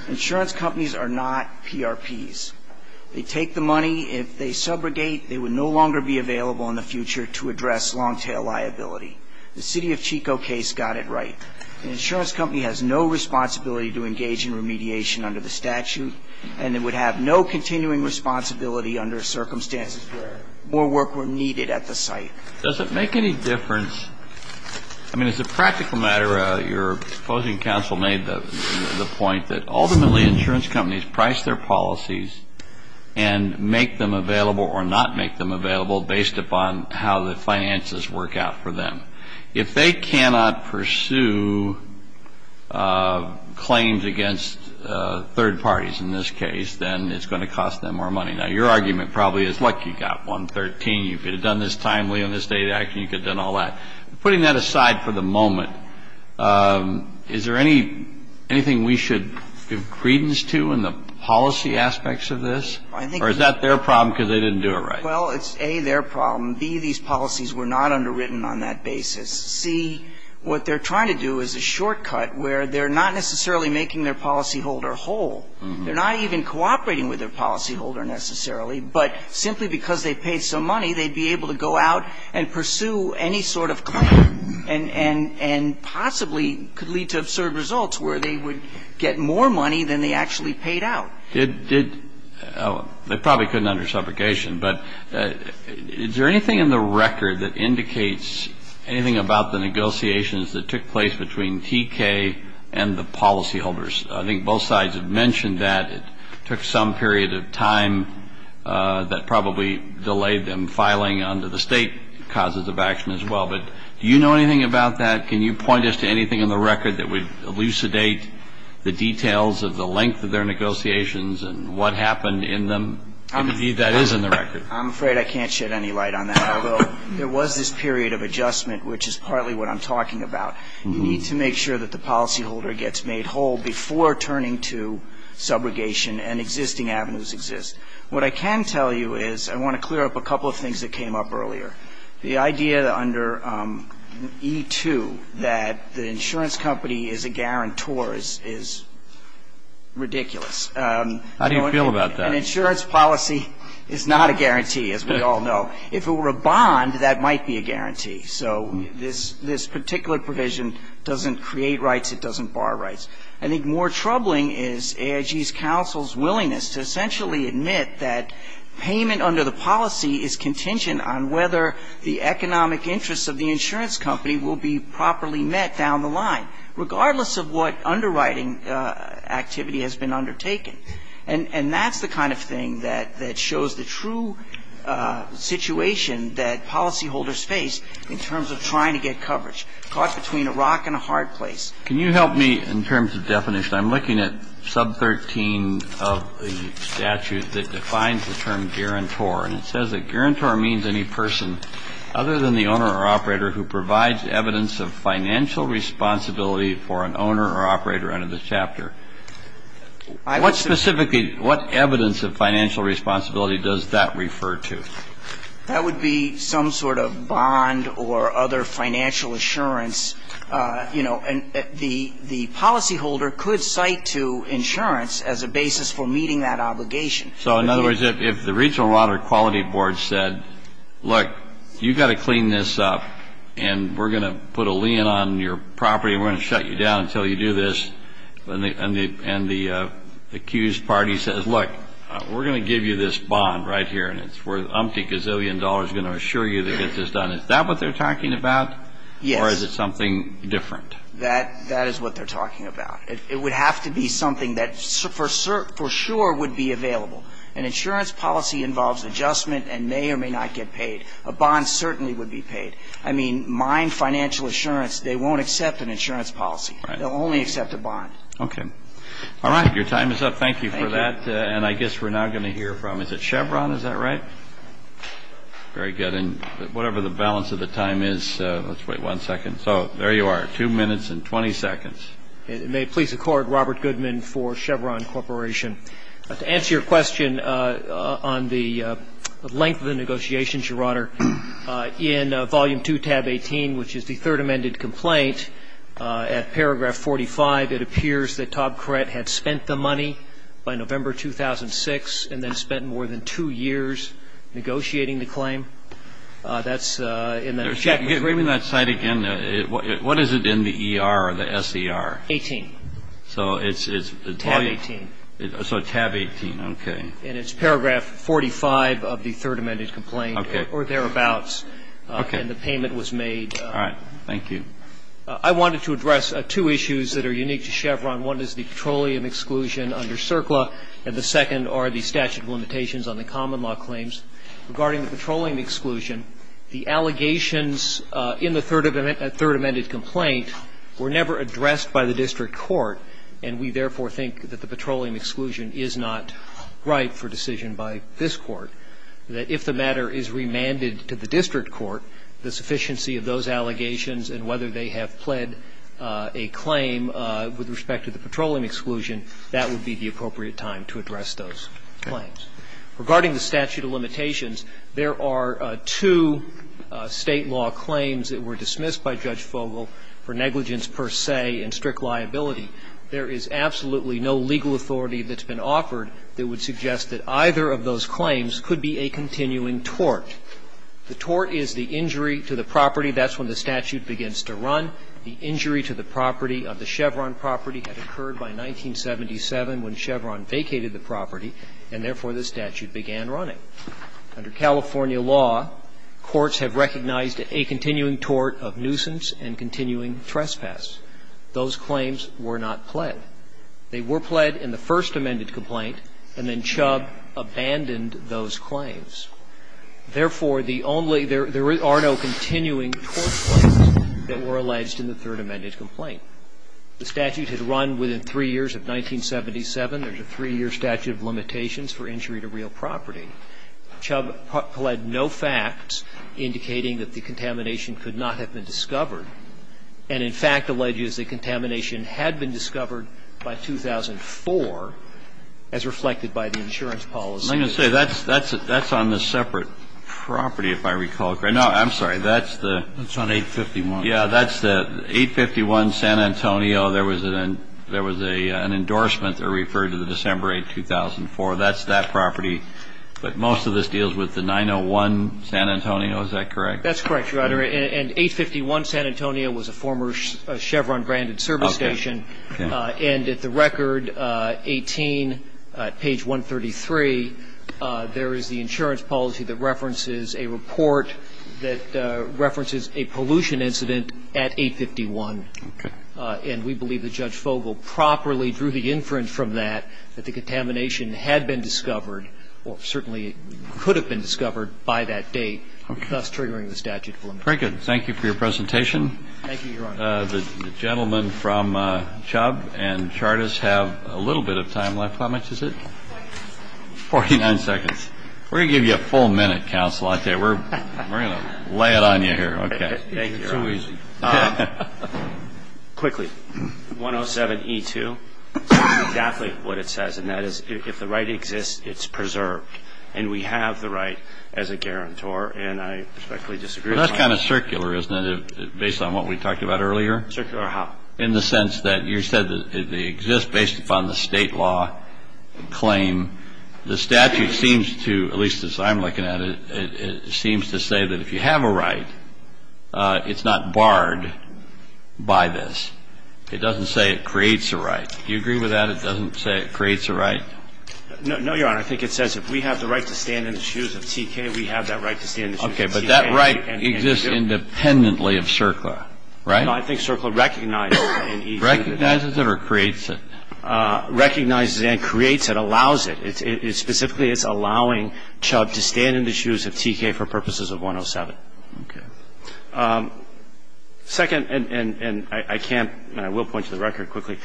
Insurance companies are not PRPs. They take the money. If they subrogate, they would no longer be available in the future to address long-tail liability. The City of Chico case got it right. An insurance company has no responsibility to engage in remediation under the statute, and it would have no continuing responsibility under circumstances where more work were needed at the site. Does it make any difference? I mean, as a practical matter, your opposing counsel made the point that ultimately insurance companies price their policies and make them available or not make them available based upon how the finances work out for them. If they cannot pursue claims against third parties in this case, then it's going to cost them more money. Now, your argument probably is, look, you've got 113. You could have done this timely on this data. Actually, you could have done all that. Putting that aside for the moment, is there anything we should give credence to in the policy aspects of this? Or is that their problem because they didn't do it right? Well, it's, A, their problem. B, these policies were not underwritten on that basis. C, what they're trying to do is a shortcut where they're not necessarily making their policyholder whole. They're not even cooperating with their policyholder necessarily, but simply because they paid some money, they'd be able to go out and pursue any sort of claim and possibly could lead to absurd results where they would get more money than they actually paid out. They probably couldn't under subrogation, but is there anything in the record that indicates anything about the negotiations that took place between TK and the policyholders? I think both sides have mentioned that it took some period of time that probably delayed them filing under the state causes of action as well. But do you know anything about that? Can you point us to anything in the record that would elucidate the details of the negotiations and what happened in them, if indeed that is in the record? I'm afraid I can't shed any light on that, although there was this period of adjustment, which is partly what I'm talking about. You need to make sure that the policyholder gets made whole before turning to subrogation and existing avenues exist. What I can tell you is I want to clear up a couple of things that came up earlier. The idea under E2 that the insurance company is a guarantor is ridiculous. How do you feel about that? An insurance policy is not a guarantee, as we all know. If it were a bond, that might be a guarantee. So this particular provision doesn't create rights. It doesn't bar rights. I think more troubling is AIG's counsel's willingness to essentially admit that payment under the policy is contingent on whether the economic interests of the insurance company will be properly met down the line, regardless of what underwriting activity has been undertaken. And that's the kind of thing that shows the true situation that policyholders face in terms of trying to get coverage, caught between a rock and a hard place. Can you help me in terms of definition? I'm looking at sub 13 of the statute that defines the term guarantor, and it says that guarantor means any person other than the owner or operator who provides evidence of financial responsibility for an owner or operator under the chapter. What specifically, what evidence of financial responsibility does that refer to? That would be some sort of bond or other financial assurance. You know, the policyholder could cite to insurance as a basis for meeting that obligation. So in other words, if the regional water quality board said, look, you've got to put a lien on your property, we're going to shut you down until you do this, and the accused party says, look, we're going to give you this bond right here, and it's worth umpty gazillion dollars, we're going to assure you to get this done, is that what they're talking about? Yes. Or is it something different? That is what they're talking about. It would have to be something that for sure would be available. An insurance policy involves adjustment and may or may not get paid. A bond certainly would be paid. I mean, mine financial assurance, they won't accept an insurance policy. They'll only accept a bond. Okay. All right. Your time is up. Thank you for that. Thank you. And I guess we're now going to hear from, is it Chevron? Is that right? Very good. And whatever the balance of the time is, let's wait one second. So there you are, two minutes and 20 seconds. It may please the Court, Robert Goodman for Chevron Corporation. To answer your question on the length of the negotiations, Your Honor, in Volume 2, Tab 18, which is the Third Amended Complaint, at paragraph 45, it appears that Todd Korett had spent the money by November 2006 and then spent more than two years negotiating the claim. That's in the chapter. Read me that site again. What is it in the ER or the SER? 18. So it's Tab 18. Okay. And it's paragraph 45 of the Third Amended Complaint or thereabouts. Okay. And the payment was made. All right. Thank you. I wanted to address two issues that are unique to Chevron. One is the petroleum exclusion under CERCLA, and the second are the statute of limitations on the common law claims. Regarding the petroleum exclusion, the allegations in the Third Amended Complaint were never addressed by the district court, and we therefore think that the petroleum exclusion is not right for decision by this Court, that if the matter is remanded to the district court, the sufficiency of those allegations and whether they have pled a claim with respect to the petroleum exclusion, that would be the appropriate time to address those claims. Regarding the statute of limitations, there are two State law claims that were dismissed by Judge Fogel for negligence per se and strict liability. There is absolutely no legal authority that's been offered that would suggest that either of those claims could be a continuing tort. The tort is the injury to the property. That's when the statute begins to run. The injury to the property of the Chevron property had occurred by 1977 when Chevron vacated the property, and therefore, the statute began running. Under California law, courts have recognized a continuing tort of nuisance and continuing trespass. Those claims were not pled. They were pled in the First Amended Complaint, and then Chubb abandoned those claims. Therefore, the only – there are no continuing tort claims that were alleged in the Third Amended Complaint. The statute had run within three years of 1977. There's a three-year statute of limitations for injury to real property. Chubb pled no facts indicating that the contamination could not have been discovered and, in fact, alleges that contamination had been discovered by 2004 as reflected by the insurance policy. Let me say, that's on a separate property, if I recall correctly. No, I'm sorry. That's the – That's on 851. Yeah, that's the 851 San Antonio. There was an endorsement that referred to the December 8, 2004. That's that property. But most of this deals with the 901 San Antonio. Is that correct? That's correct, Your Honor. And 851 San Antonio was a former Chevron-granted service station. Okay. And at the record 18, page 133, there is the insurance policy that references a report that references a pollution incident at 851. Okay. And we believe that Judge Fogel properly drew the inference from that that the contamination had been discovered or certainly could have been discovered by that date, thus triggering the statute of limitations. Very good. Thank you for your presentation. Thank you, Your Honor. The gentlemen from Chubb and Chartas have a little bit of time left. How much is it? 49 seconds. 49 seconds. We're going to give you a full minute, Counsel. We're going to lay it on you here. Okay. Thank you, Your Honor. It's too easy. Quickly, 107E2 says exactly what it says, and that is if the right exists, it's preserved. And we have the right as a guarantor, and I respectfully disagree with that. But that's kind of circular, isn't it, based on what we talked about earlier? Circular how? In the sense that you said that they exist based upon the State law claim. The statute seems to, at least as I'm looking at it, it seems to say that if you have a right, it's not barred by this. It doesn't say it creates a right. Do you agree with that? It doesn't say it creates a right? No, Your Honor. I think it says if we have the right to stand in the shoes of TK, we have that right to stand in the shoes of TK. Okay. But that right exists independently of circular, right? No, I think circular recognizes it. Recognizes it or creates it? Recognizes it and creates it, allows it. Specifically, it's allowing Chubb to stand in the shoes of TK for purposes of 107. Okay. Second, and I can't, and I will point to the record quickly,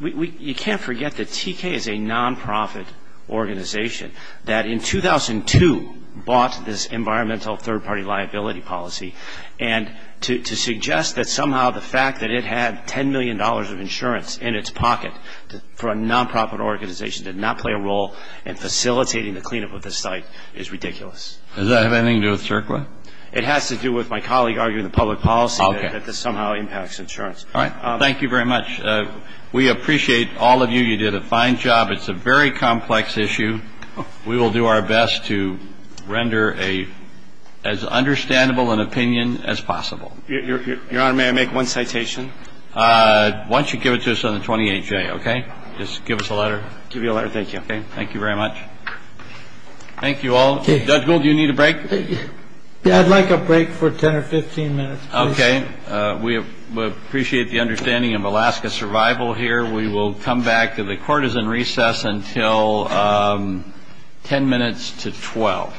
you can't forget that TK is a nonprofit organization that in 2002 bought this environmental third-party liability policy. And to suggest that somehow the fact that it had $10 million of insurance in its pocket for a nonprofit organization to not play a role in facilitating the cleanup of this site is ridiculous. Does that have anything to do with circular? It has to do with my colleague arguing the public policy that this somehow impacts insurance. All right. Thank you very much. We appreciate all of you. You did a fine job. It's a very complex issue. We will do our best to render as understandable an opinion as possible. Your Honor, may I make one citation? Why don't you give it to us on the 28th day, okay? Just give us a letter. Give you a letter. Thank you. Okay. Thank you very much. Thank you all. Judge Gould, do you need a break? Yeah, I'd like a break for 10 or 15 minutes, please. Okay. We appreciate the understanding of Alaska's survival here. We will come back. The court is in recess until 10 minutes to 12.